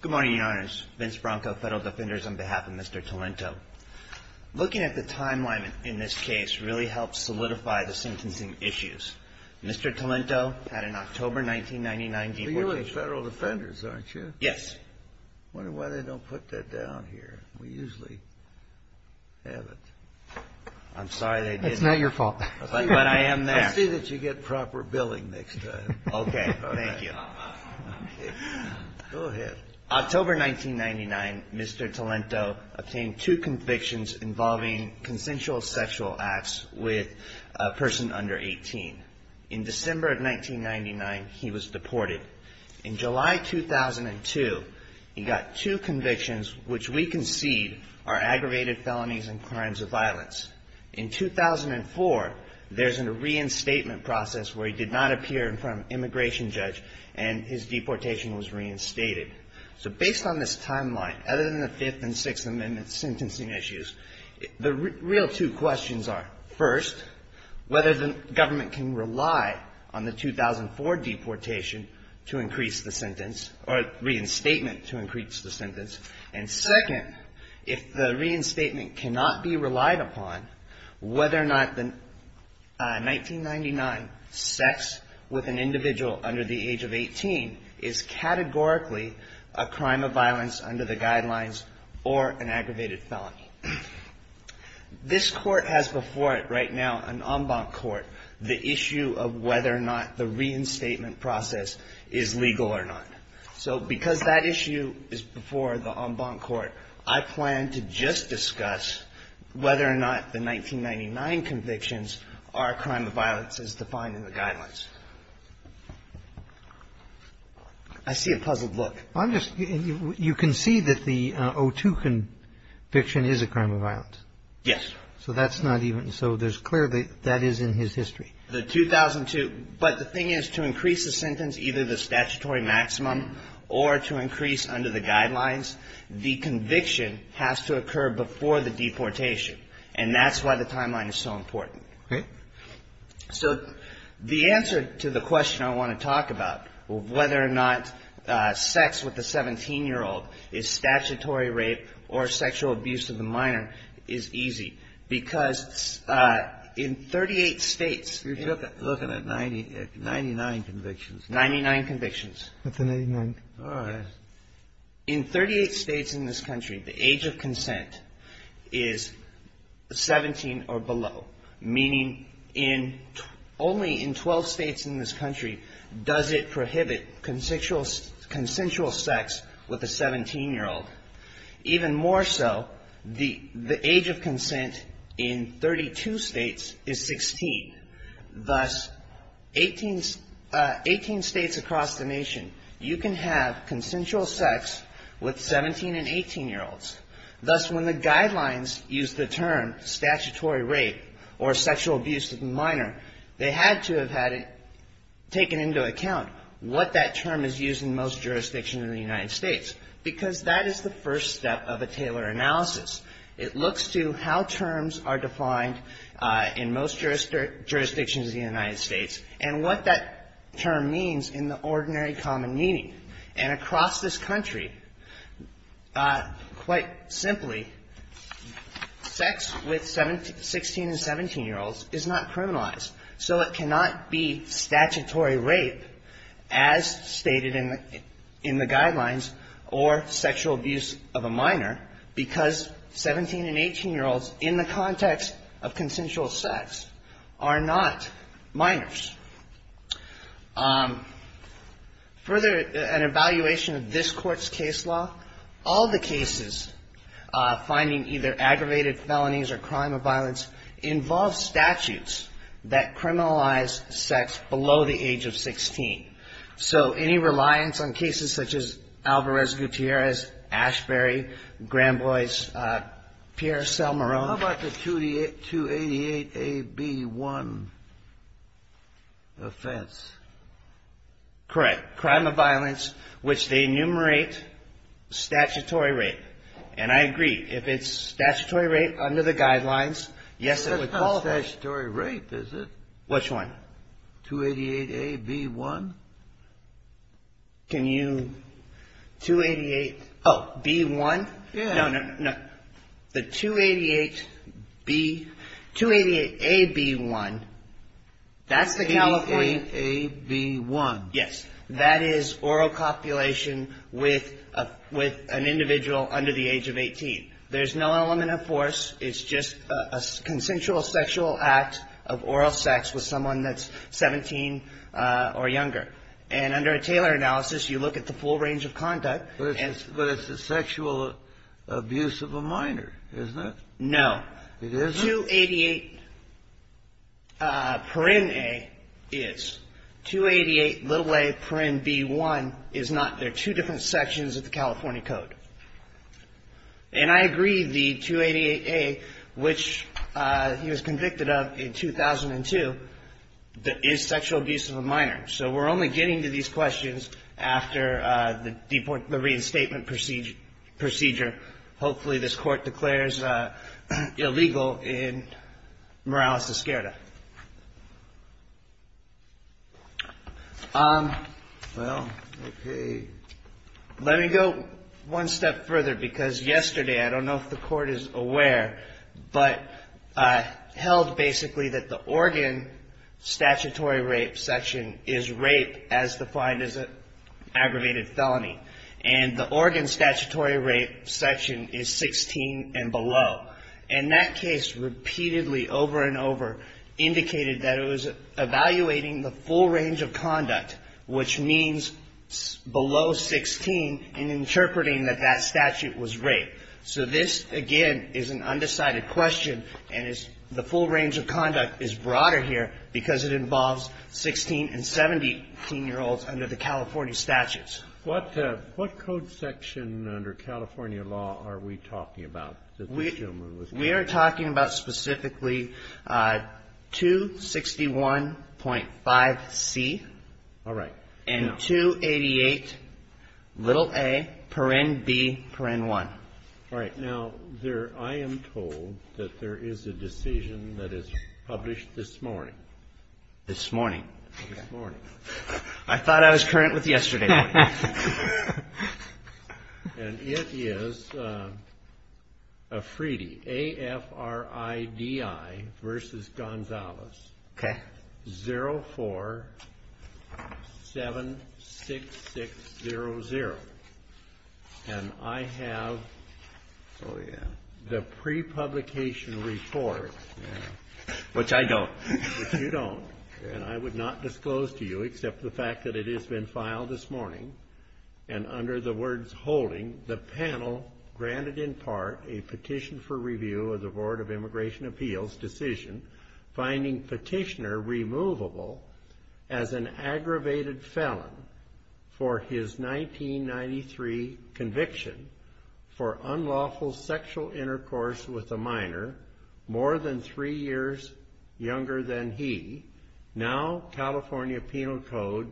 Good morning, Your Honors. Vince Bronco, Federal Defenders, on behalf of Mr. Tolento. Looking at the timeline in this case really helps solidify the sentencing issues. Mr. Tolento had an October 1999 deportation. You're with Federal Defenders, aren't you? Yes. I wonder why they don't put that down here. We usually have it. I'm sorry they didn't. That's not your fault. But I am there. I'll see that you get proper billing next time. Okay. Thank you. October 1999, Mr. Tolento obtained two convictions involving consensual sexual acts with a person under 18. In December of 1999, he was deported. In July 2002, he got two convictions, which we concede are aggravated felonies and crimes of violence. In 2004, there's a reinstatement process where he did not appear in front of an immigration judge and his deportation was reinstated. So based on this timeline, other than the Fifth and Sixth Amendment sentencing issues, the real two questions are, first, whether the government can rely on the 2004 deportation to increase the sentence or reinstatement to increase the sentence. And second, if the reinstatement cannot be relied upon, whether or not the 1999 sex with an individual under the age of 18 is categorically a crime of violence under the guidelines or an aggravated felony. This court has before it right now, an en banc court, the issue of whether or not the reinstatement process is legal or not. So because that issue is before the en banc court, I plan to just discuss whether or not the 1999 convictions are a crime of violence as defined in the guidelines. I see a puzzled look. I'm just you can see that the 02 conviction is a crime of violence. Yes. So that's not even so. There's clearly that is in his history. The 2002. But the thing is, to increase the sentence, either the statutory maximum or to increase under the guidelines, the conviction has to occur before the deportation. And that's why the timeline is so important. So the answer to the question I want to talk about, whether or not sex with a 17-year-old is statutory rape or sexual abuse of the minor, is easy. Because in 38 States. You're looking at 99 convictions. 99 convictions. That's a 99. All right. In 38 States in this country, the age of consent is 17 or below. Meaning in only in 12 States in this country does it prohibit consensual sex with a 17-year-old. Even more so, the age of consent in 32 States is 16. Thus, 18 States across the nation, you can have consensual sex with 17 and 18-year-olds. Thus, when the guidelines use the term statutory rape or sexual abuse of the minor, they had to have had it taken into account what that term is used in most jurisdictions in the United States. Because that is the first step of a Taylor analysis. It looks to how terms are defined in most jurisdictions in the United States and what that term means in the ordinary common meaning. And across this country, quite simply, sex with 16 and 17-year-olds is not criminalized. So it cannot be statutory rape as stated in the guidelines or sexual abuse of a minor because 17 and 18-year-olds in the context of consensual sex are not minors. Further, an evaluation of this Court's case law, all the cases finding either aggravated felonies or crime of violence involve statutes that criminalize sex below the age of 16. So any reliance on cases such as Alvarez-Gutierrez, Ashbery, Granboy's, Pierre Selmarone. How about the 288AB1 offense? Correct. Crime of violence, which they enumerate statutory rape. And I agree. If it's statutory rape under the guidelines, yes, it would qualify. That's not statutory rape, is it? Which one? 288AB1? Can you... 288... Oh, B1? Yeah. No, no, no. The 288B, 288AB1, that's the California... 288AB1. Yes. That is oral copulation with an individual under the age of 18. There's no element of force. It's just a consensual sexual act of oral sex with someone that's 17 or younger. And under a Taylor analysis, you look at the full range of conduct. But it's a sexual abuse of a minor, isn't it? No. It isn't? 288PrinA is. 288aPrinB1 is not. They're two different sections of the California Code. And I agree the 288A, which he was convicted of in 2002, is sexual abuse of a minor. So we're only getting to these questions after the reinstatement procedure. Hopefully this Court declares illegal in Morales Esquerra. Well, okay. Let me go one step further, because yesterday, I don't know if the Court is aware, but held basically that the Oregon statutory rape section is rape as defined as an aggravated felony. And the Oregon statutory rape section is 16 and below. And that case repeatedly, over and over, indicated that it was evaluating the full range of conduct, which means below 16, and interpreting that that statute was rape. So this, again, is an undecided question. And the full range of conduct is broader here because it involves 16- and 17-year-olds under the California statutes. What code section under California law are we talking about? We are talking about specifically 261.5C. All right. And 288.a.b.1. All right. Now, I am told that there is a decision that is published this morning. This morning. This morning. I thought I was current with yesterday. And it is AFRIDI v. Gonzalez, 0476600. And I have the pre-publication report. Which I don't. Which you don't. And I would not disclose to you except the fact that it has been filed this morning. And under the words holding, the panel granted in part a petition for review of the Board of Immigration Appeals decision, finding petitioner removable as an aggravated felon for his 1993 conviction for unlawful sexual intercourse with a minor more than three years younger than he, now California Penal Code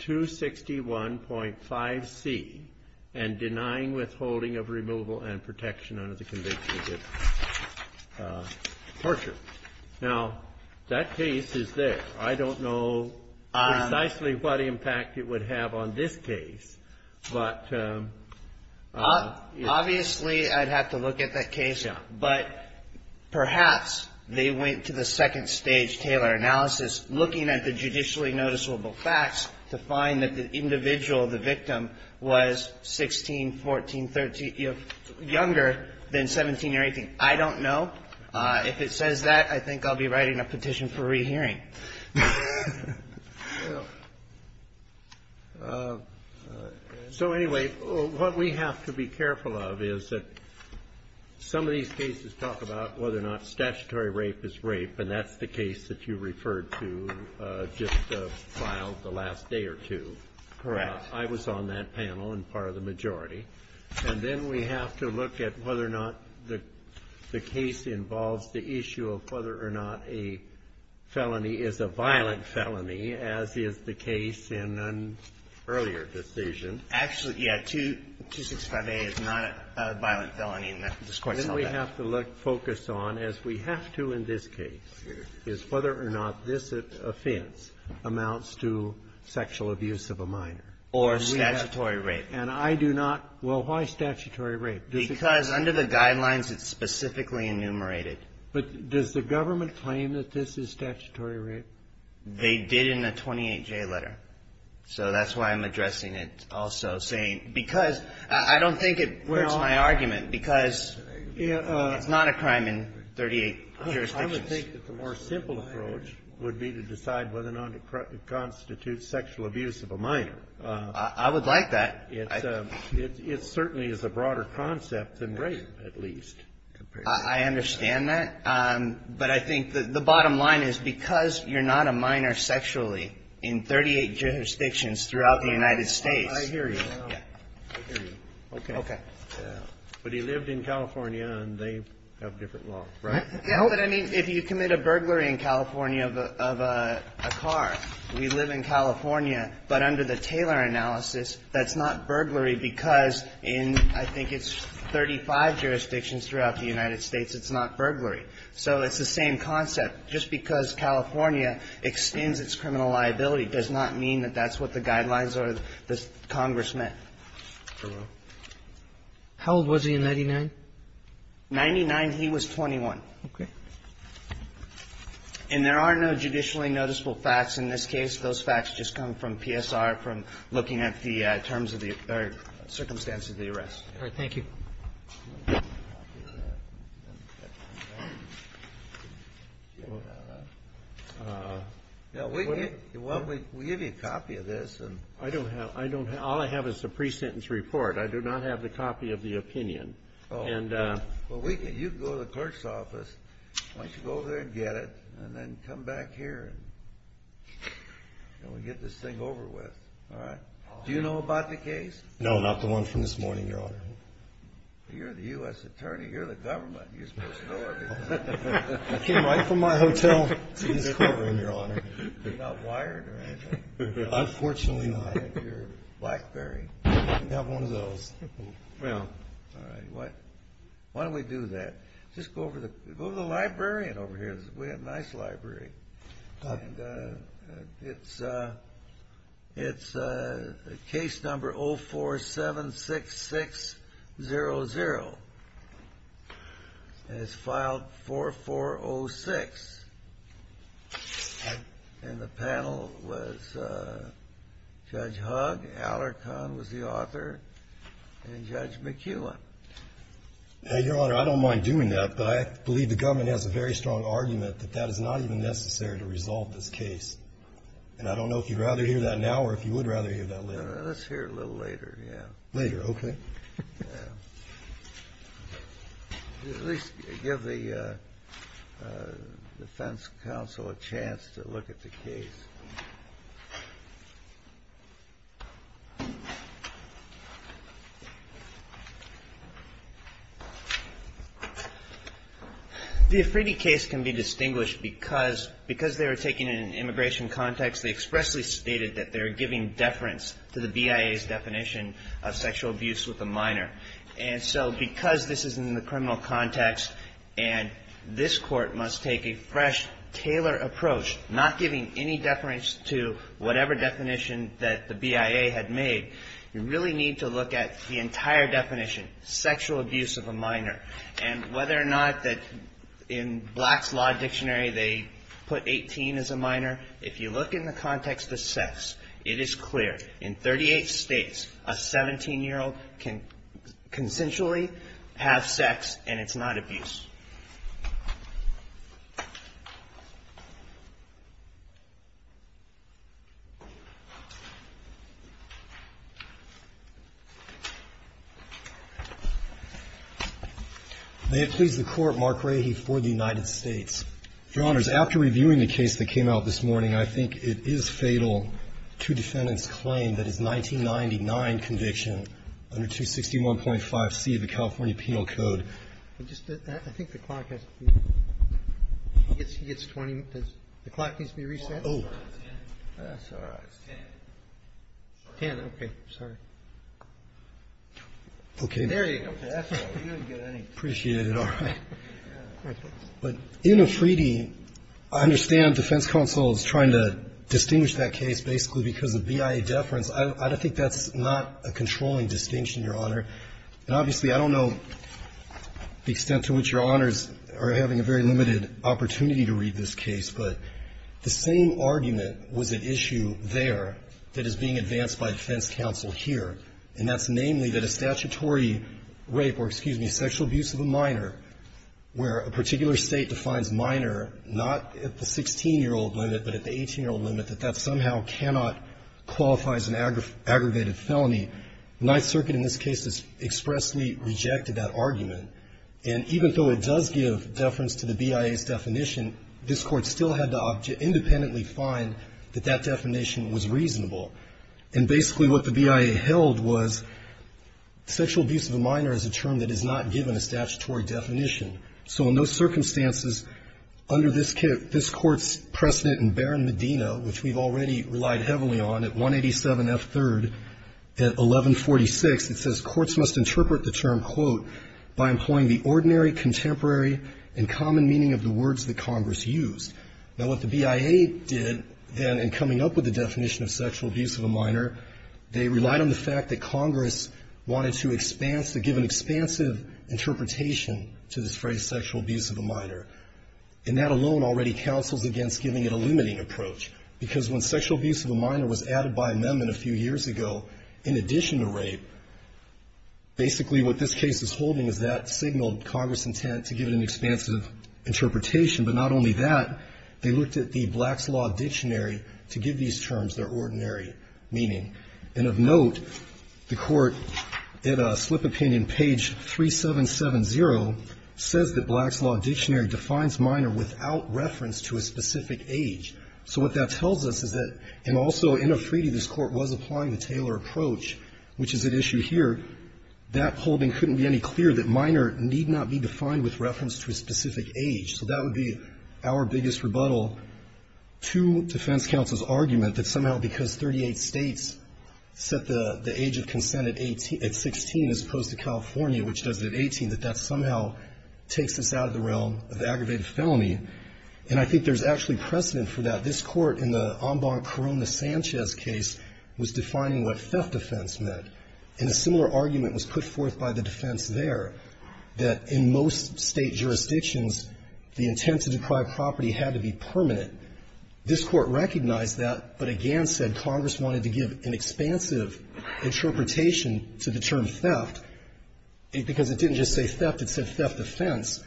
261.5C, and denying withholding of removal and protection under the conviction of torture. Now, that case is this. I don't know precisely what impact it would have on this case. Obviously, I'd have to look at that case. But perhaps they went to the second stage Taylor analysis looking at the judicially noticeable facts to find that the individual, the victim, was 16, 14, 13, you know, younger than 17 or 18. I don't know. If it says that, I think I'll be writing a petition for rehearing. So, anyway, what we have to be careful of is that some of these cases talk about whether or not statutory rape is rape, and that's the case that you referred to just filed the last day or two. Correct. I was on that panel and part of the majority. And then we have to look at whether or not the case involves the issue of whether or not a felony is a violent felony, as is the case in an earlier decision. Actually, yeah. 265A is not a violent felony in that discourse. Then we have to focus on, as we have to in this case, is whether or not this offense amounts to sexual abuse of a minor. Or statutory rape. And I do not. Well, why statutory rape? Because under the guidelines, it's specifically enumerated. But does the government claim that this is statutory rape? They did in the 28J letter. So that's why I'm addressing it also saying because I don't think it hurts my argument because it's not a crime in 38 jurisdictions. I would think that the more simple approach would be to decide whether or not it constitutes sexual abuse of a minor. I would like that. It certainly is a broader concept than rape, at least. I understand that. But I think the bottom line is because you're not a minor sexually in 38 jurisdictions throughout the United States. I hear you. I hear you. Okay. Okay. But he lived in California, and they have different laws, right? But I mean, if you commit a burglary in California of a car, we live in California. But under the Taylor analysis, that's not burglary because in I think it's 35 jurisdictions throughout the United States, it's not burglary. So it's the same concept. Just because California extends its criminal liability does not mean that that's what the guidelines or the Congress meant. How old was he in 99? 99, he was 21. Okay. And there are no judicially noticeable facts in this case. Those facts just come from PSR, from looking at the terms of the circumstances of the arrest. All right. Thank you. We give you a copy of this. I don't have. All I have is the pre-sentence report. I do not have the copy of the opinion. Well, you can go to the clerk's office. Why don't you go over there and get it, and then come back here, and we'll get this thing over with. All right? Do you know about the case? No, not the one from this morning, Your Honor. You're the U.S. Attorney. You're the government. You're supposed to know everything. I came right from my hotel to this courtroom, Your Honor. You're not wired or anything? Unfortunately not. You're Blackberry. I have one of those. Well, all right. Why don't we do that? Just go over to the librarian over here. We have a nice library. It's case number 0476600. It's filed 4406. And the panel was Judge Hugg, Allerton was the author, and Judge McKeown. Now, Your Honor, I don't mind doing that, but I believe the government has a very strong argument that that is not even necessary to resolve this case. And I don't know if you'd rather hear that now or if you would rather hear that later. Let's hear it a little later, yeah. Later, okay. At least give the defense counsel a chance to look at the case. The Efride case can be distinguished because they were taken in an immigration context. They expressly stated that they're giving deference to the BIA's definition of sexual abuse with a minor. And so because this is in the criminal context and this court must take a fresh, tailored approach, not giving any deference to whatever definition that the BIA had made, you really need to look at the entire definition, sexual abuse of a minor, and whether or not that in Black's Law Dictionary they put 18 as a minor. If you look in the context of sex, it is clear. In 38 States, a 17-year-old can consensually have sex and it's not abuse. May it please the Court, Mark Rahe for the United States. Your Honors, after reviewing the case that came out this morning, I think it is fatal to defendant's claim that his 1999 conviction under 261.5C of the California Penal Code. I think the clock has to be reset. The clock needs to be reset? Oh. That's all right. It's 10. 10? Okay. Sorry. Okay. There you go. That's all right. You didn't get any. I appreciate it. All right. But in Afridi, I understand defense counsel is trying to distinguish that case basically because of BIA deference. I don't think that's not a controlling distinction, Your Honor. And obviously, I don't know the extent to which Your Honors are having a very limited opportunity to read this case, but the same argument was at issue there that is being advanced by defense counsel here, and that's namely that a statutory rape or, excuse me, sexual abuse of a minor, where a particular State defines minor, not at the 16-year-old limit, but at the 18-year-old limit, that that somehow cannot qualify as an aggravated felony, Ninth Circuit in this case has expressly rejected that argument. And even though it does give deference to the BIA's definition, this Court still had to independently find that that definition was reasonable. And basically what the BIA held was sexual abuse of a minor is a term that is not given a statutory definition. So in those circumstances, under this Court's precedent in Barron-Medina, which we've already relied heavily on at 187F3rd at 1146, it says courts must interpret the term, quote, by employing the ordinary, contemporary, and common meaning of the words that Congress used. Now, what the BIA did then in coming up with the definition of sexual abuse of a minor, they relied on the fact that Congress wanted to give an expansive interpretation to this phrase sexual abuse of a minor. And that alone already counsels against giving it a limiting approach, because when sexual abuse of a minor was added by amendment a few years ago, in addition to rape, basically what this case is holding is that signaled Congress' intent to give it an expansive interpretation. But not only that, they looked at the Black's Law Dictionary to give these terms their ordinary meaning. And of note, the Court, in a slip of pen in page 3770, says that Black's Law Dictionary defines minor without reference to a specific age. So what that tells us is that, and also in a treaty this Court was applying the Taylor approach, which is at issue here, that holding couldn't be any clearer that minor need not be defined with reference to a specific age. So that would be our biggest rebuttal to defense counsel's argument that somehow because 38 States set the age of consent at 16 as opposed to California, which does it at 18, that that somehow takes us out of the realm of aggravated felony. And I think there's actually precedent for that. This Court in the Ombong-Corona-Sanchez case was defining what theft defense meant. And a similar argument was put forth by the defense there, that in most State jurisdictions, the intent to deprive property had to be permanent. This Court recognized that, but again said Congress wanted to give an expansive interpretation to the term theft, because it didn't just say theft. It said theft defense.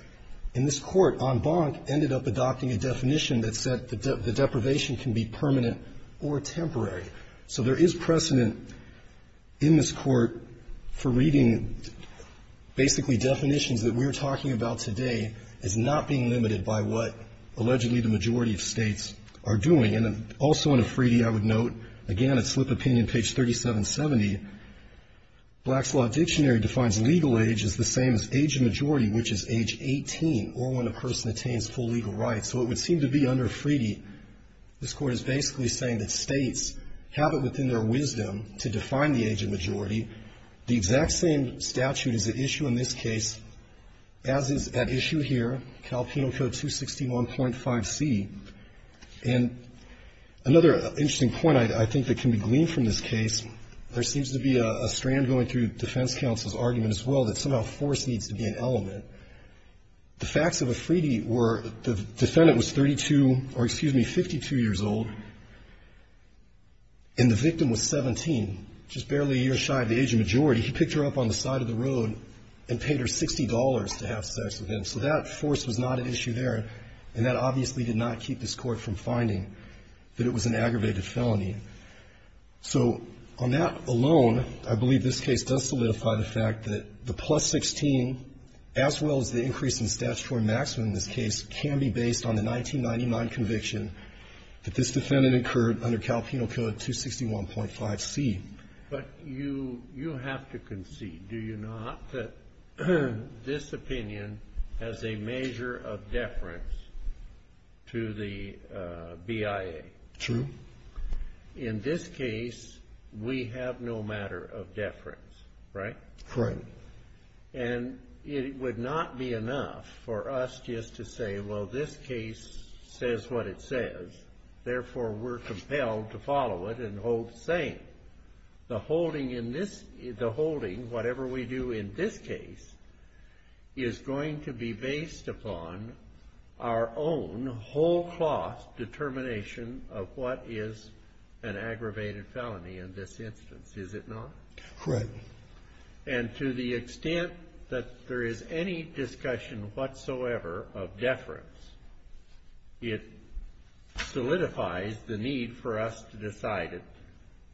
And this Court, Ombong, ended up adopting a definition that said the deprivation can be permanent or temporary. So there is precedent in this Court for reading basically definitions that we're talking about today as not being limited by what allegedly the majority of States are doing. And also in a freedie, I would note, again, at Slip Opinion, page 3770, Black's Law Dictionary defines legal age as the same as age of majority, which is age 18, or when a person attains full legal rights. So it would seem to be under a freedie, this Court is basically saying that States have it within their wisdom to define the age of majority. The exact same statute is at issue in this case, as is at issue here, Cal Penal Code 261.5c. And another interesting point I think that can be gleaned from this case, there seems to be a strand going through defense counsel's argument as well that somehow force needs to be an element. The facts of a freedie were the defendant was 32 or, excuse me, 52 years old, and the victim was 17, just barely a year shy of the age of majority. He picked her up on the side of the road and paid her $60 to have sex with him. So that force was not an issue there, and that obviously did not keep this Court from finding that it was an aggravated felony. So on that alone, I believe this case does solidify the fact that the plus 16, as well as the increase in statutory maximum in this case, can be based on the 1999 conviction that this defendant incurred under Cal Penal Code 261.5c. But you have to concede, do you not, that this opinion has a measure of deference to the BIA? True. In this case, we have no matter of deference, right? Correct. And it would not be enough for us just to say, well, this case says what it says. Therefore, we're compelled to follow it and hold sane. The holding, whatever we do in this case, is going to be based upon our own whole cloth determination of what is an aggravated felony in this instance, is it not? Correct. And to the extent that there is any discussion whatsoever of deference, it solidifies the need for us to decide it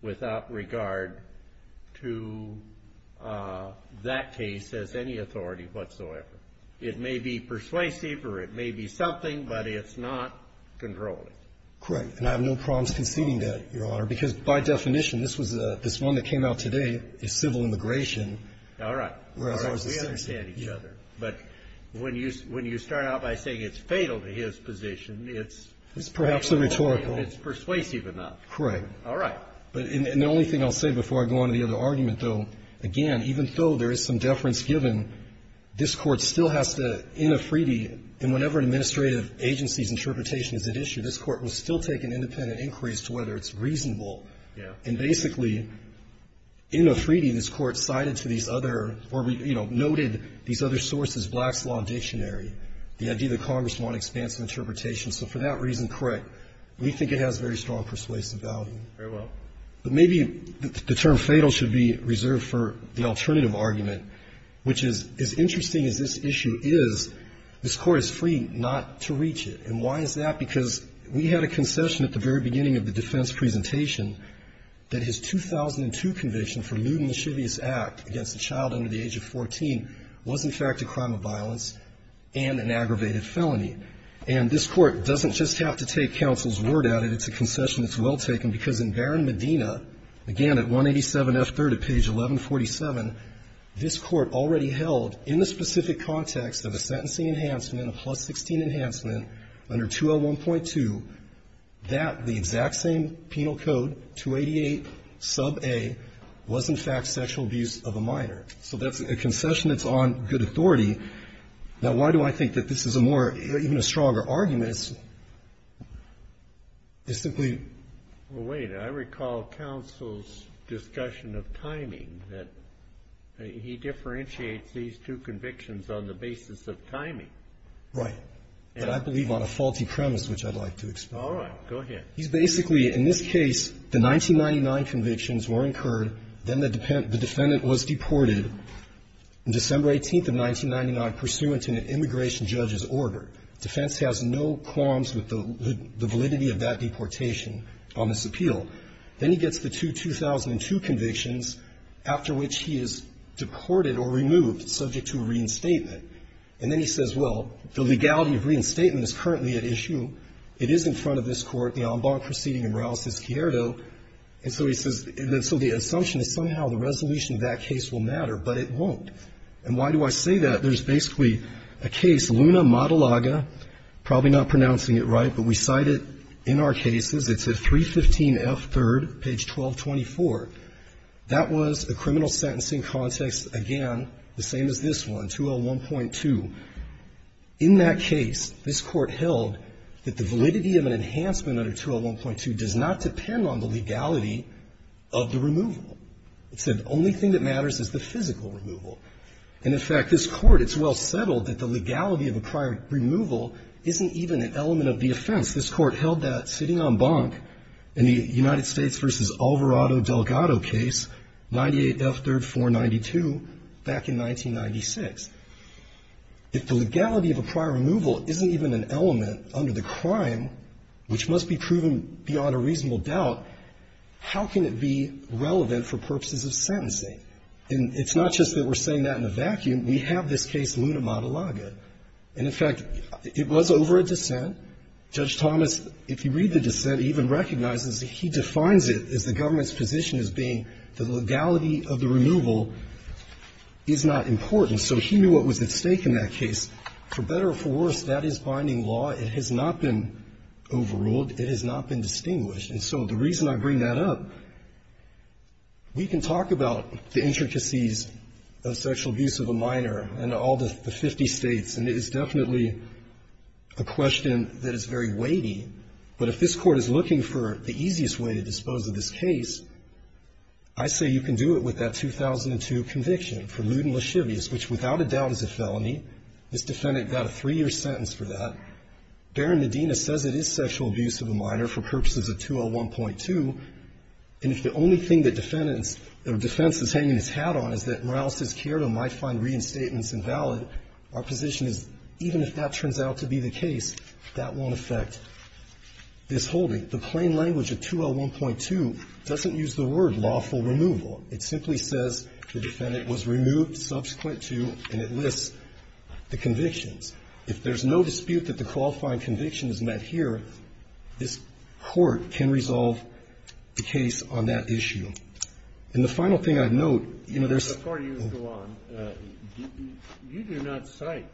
without regard to that case as any authority whatsoever. It may be persuasive or it may be something, but it's not controlling. Correct. And I have no problems conceding that, Your Honor, because by definition this one that came out today is civil immigration. All right. All right. We understand each other. But when you start out by saying it's fatal to his position, it's persuasive enough. It's perhaps a rhetorical. Correct. All right. And the only thing I'll say before I go on to the other argument, though, again, even though there is some deference given, this Court still has to, in a free deed, and whenever an administrative agency's interpretation is at issue, this Court will still take an independent inquiry as to whether it's reasonable. Yeah. And basically, in a free deed, this Court cited to these other or, you know, noted these other sources, Black's Law and Dictionary, the idea that Congress wanted expansive interpretation. So for that reason, correct, we think it has very strong persuasive value. Very well. But maybe the term fatal should be reserved for the alternative argument, which is, as interesting as this issue is, this Court is free not to reach it. And why is that? Because we had a concession at the very beginning of the defense presentation that his 2002 conviction for lewd and lascivious act against a child under the age of 14 was, in fact, a crime of violence and an aggravated felony. And this Court doesn't just have to take counsel's word at it. It's a concession that's well taken, because in Barron-Medina, again, at 187F3rd at page 1147, this Court already held, in the specific context of a sentencing enhancement, a plus-16 enhancement under 201.2, that the exact same penal code, 288 sub a, was, in fact, sexual abuse of a minor. So that's a concession that's on good authority. Now, why do I think that this is a more, even a stronger argument? It's simply Well, wait. I recall counsel's discussion of timing, that he differentiates these two convictions on the basis of timing. Right. And I believe on a faulty premise, which I'd like to explain. All right. Go ahead. He's basically, in this case, the 1999 convictions were incurred, then the defendant was deported December 18th of 1999 pursuant to an immigration judge's order. Defense has no qualms with the validity of that deportation on this appeal. Then he gets the two 2002 convictions, after which he is deported or removed, subject to a reinstatement. And then he says, well, the legality of reinstatement is currently at issue. It is in front of this Court, the en banc proceeding in Morales v. Cierto. And so he says, and so the assumption is somehow the resolution of that case will matter, but it won't. And why do I say that? There's basically a case, Luna-Matalaga, probably not pronouncing it right, but we cite it in our cases. It's at 315F3rd, page 1224. That was a criminal sentencing context, again, the same as this one, 201.2. In that case, this Court held that the validity of an enhancement under 201.2 does not depend on the legality of the removal. It said the only thing that matters is the physical removal. And, in fact, this Court, it's well settled that the legality of a prior removal isn't even an element of the offense. This Court held that sitting en banc in the United States v. Alvarado-Delgado case, 98F3rd 492, back in 1996. If the legality of a prior removal isn't even an element under the crime, which must be proven beyond a reasonable doubt, how can it be relevant for purposes of sentencing? And it's not just that we're saying that in a vacuum. We have this case, Luna-Matalaga. And, in fact, it was over a dissent. Judge Thomas, if you read the dissent, even recognizes that he defines it as the government's position as being the legality of the removal is not important. So he knew what was at stake in that case. For better or for worse, that is binding law. It has not been overruled. It has not been distinguished. And so the reason I bring that up, we can talk about the intricacies of sexual abuse of a minor in all the 50 States. And it is definitely a question that is very weighty. But if this Court is looking for the easiest way to dispose of this case, I say you can do it with that 2002 conviction for lewd and lascivious, which without a doubt is a felony. This defendant got a three-year sentence for that. Baron Medina says it is sexual abuse of a minor for purposes of 201.2. And if the only thing that defendant's defense is hanging its hat on is that Morales has cared and might find reinstatements invalid, our position is even if that turns out to be the case, that won't affect this holding. The plain language of 201.2 doesn't use the word lawful removal. It simply says the defendant was removed subsequent to, and it lists the convictions. If there's no dispute that the qualifying conviction is met here, this Court can resolve the case on that issue. And the final thing I'd note, you know, there's Before you go on, you do not cite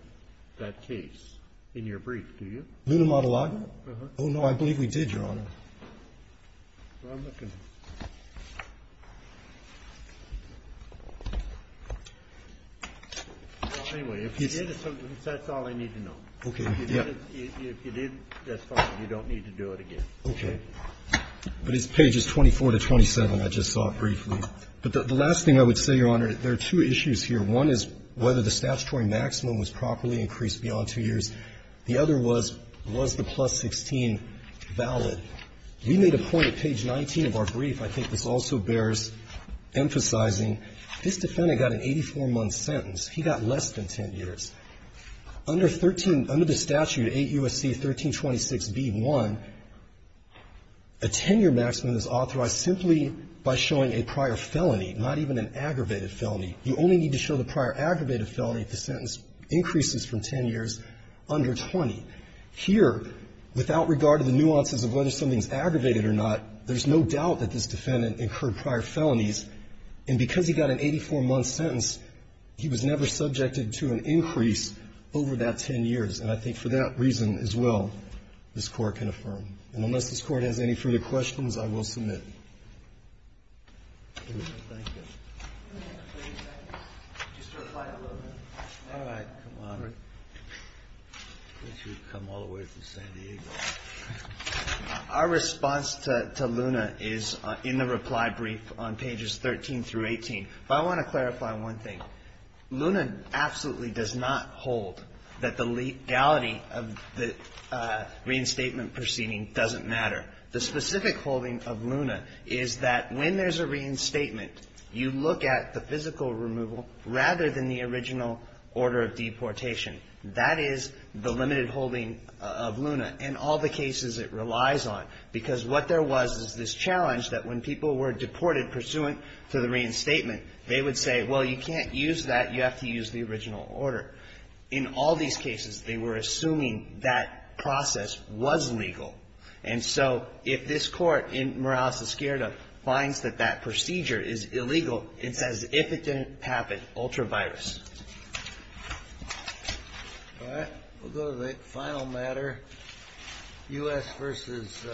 that case in your brief, do you? Luna Madalaga? Uh-huh. Oh, no, I believe we did, Your Honor. Well, I'm looking. Well, anyway, if you did, that's all I need to know. Okay. If you did, that's fine. You don't need to do it again. Okay. But it's pages 24 to 27 I just saw briefly. But the last thing I would say, Your Honor, there are two issues here. One is whether the statutory maximum was properly increased beyond 2 years. The other was, was the plus 16 valid? We made a point at page 19 of our brief, I think this also bears emphasizing, this defendant got an 84-month sentence. He got less than 10 years. Under 13, under the statute, 8 U.S.C. 1326b-1, a 10-year maximum is authorized simply by showing a prior felony, not even an aggravated felony. You only need to show the prior aggravated felony if the sentence increases from 10 years under 20. Here, without regard to the nuances of whether something is aggravated or not, there's no doubt that this defendant incurred prior felonies. And because he got an 84-month sentence, he was never subjected to an increase over that 10 years. And I think for that reason as well, this Court can affirm. And unless this Court has any further questions, I will submit. Thank you. Just to reply a little bit. All right. Come on. I wish you would come all the way from San Diego. Our response to Luna is in the reply brief on pages 13 through 18. But I want to clarify one thing. Luna absolutely does not hold that the legality of the reinstatement proceeding doesn't matter. The specific holding of Luna is that when there's a reinstatement, you look at the physical removal rather than the original order of deportation. That is the limited holding of Luna in all the cases it relies on. Because what there was is this challenge that when people were deported pursuant to the reinstatement, they would say, well, you can't use that. You have to use the original order. In all these cases, they were assuming that process was legal. And so if this Court in Morales-Esquerda finds that that procedure is illegal, it says if it didn't happen, ultra virus. All right. We'll go to the final matter. U.S. versus.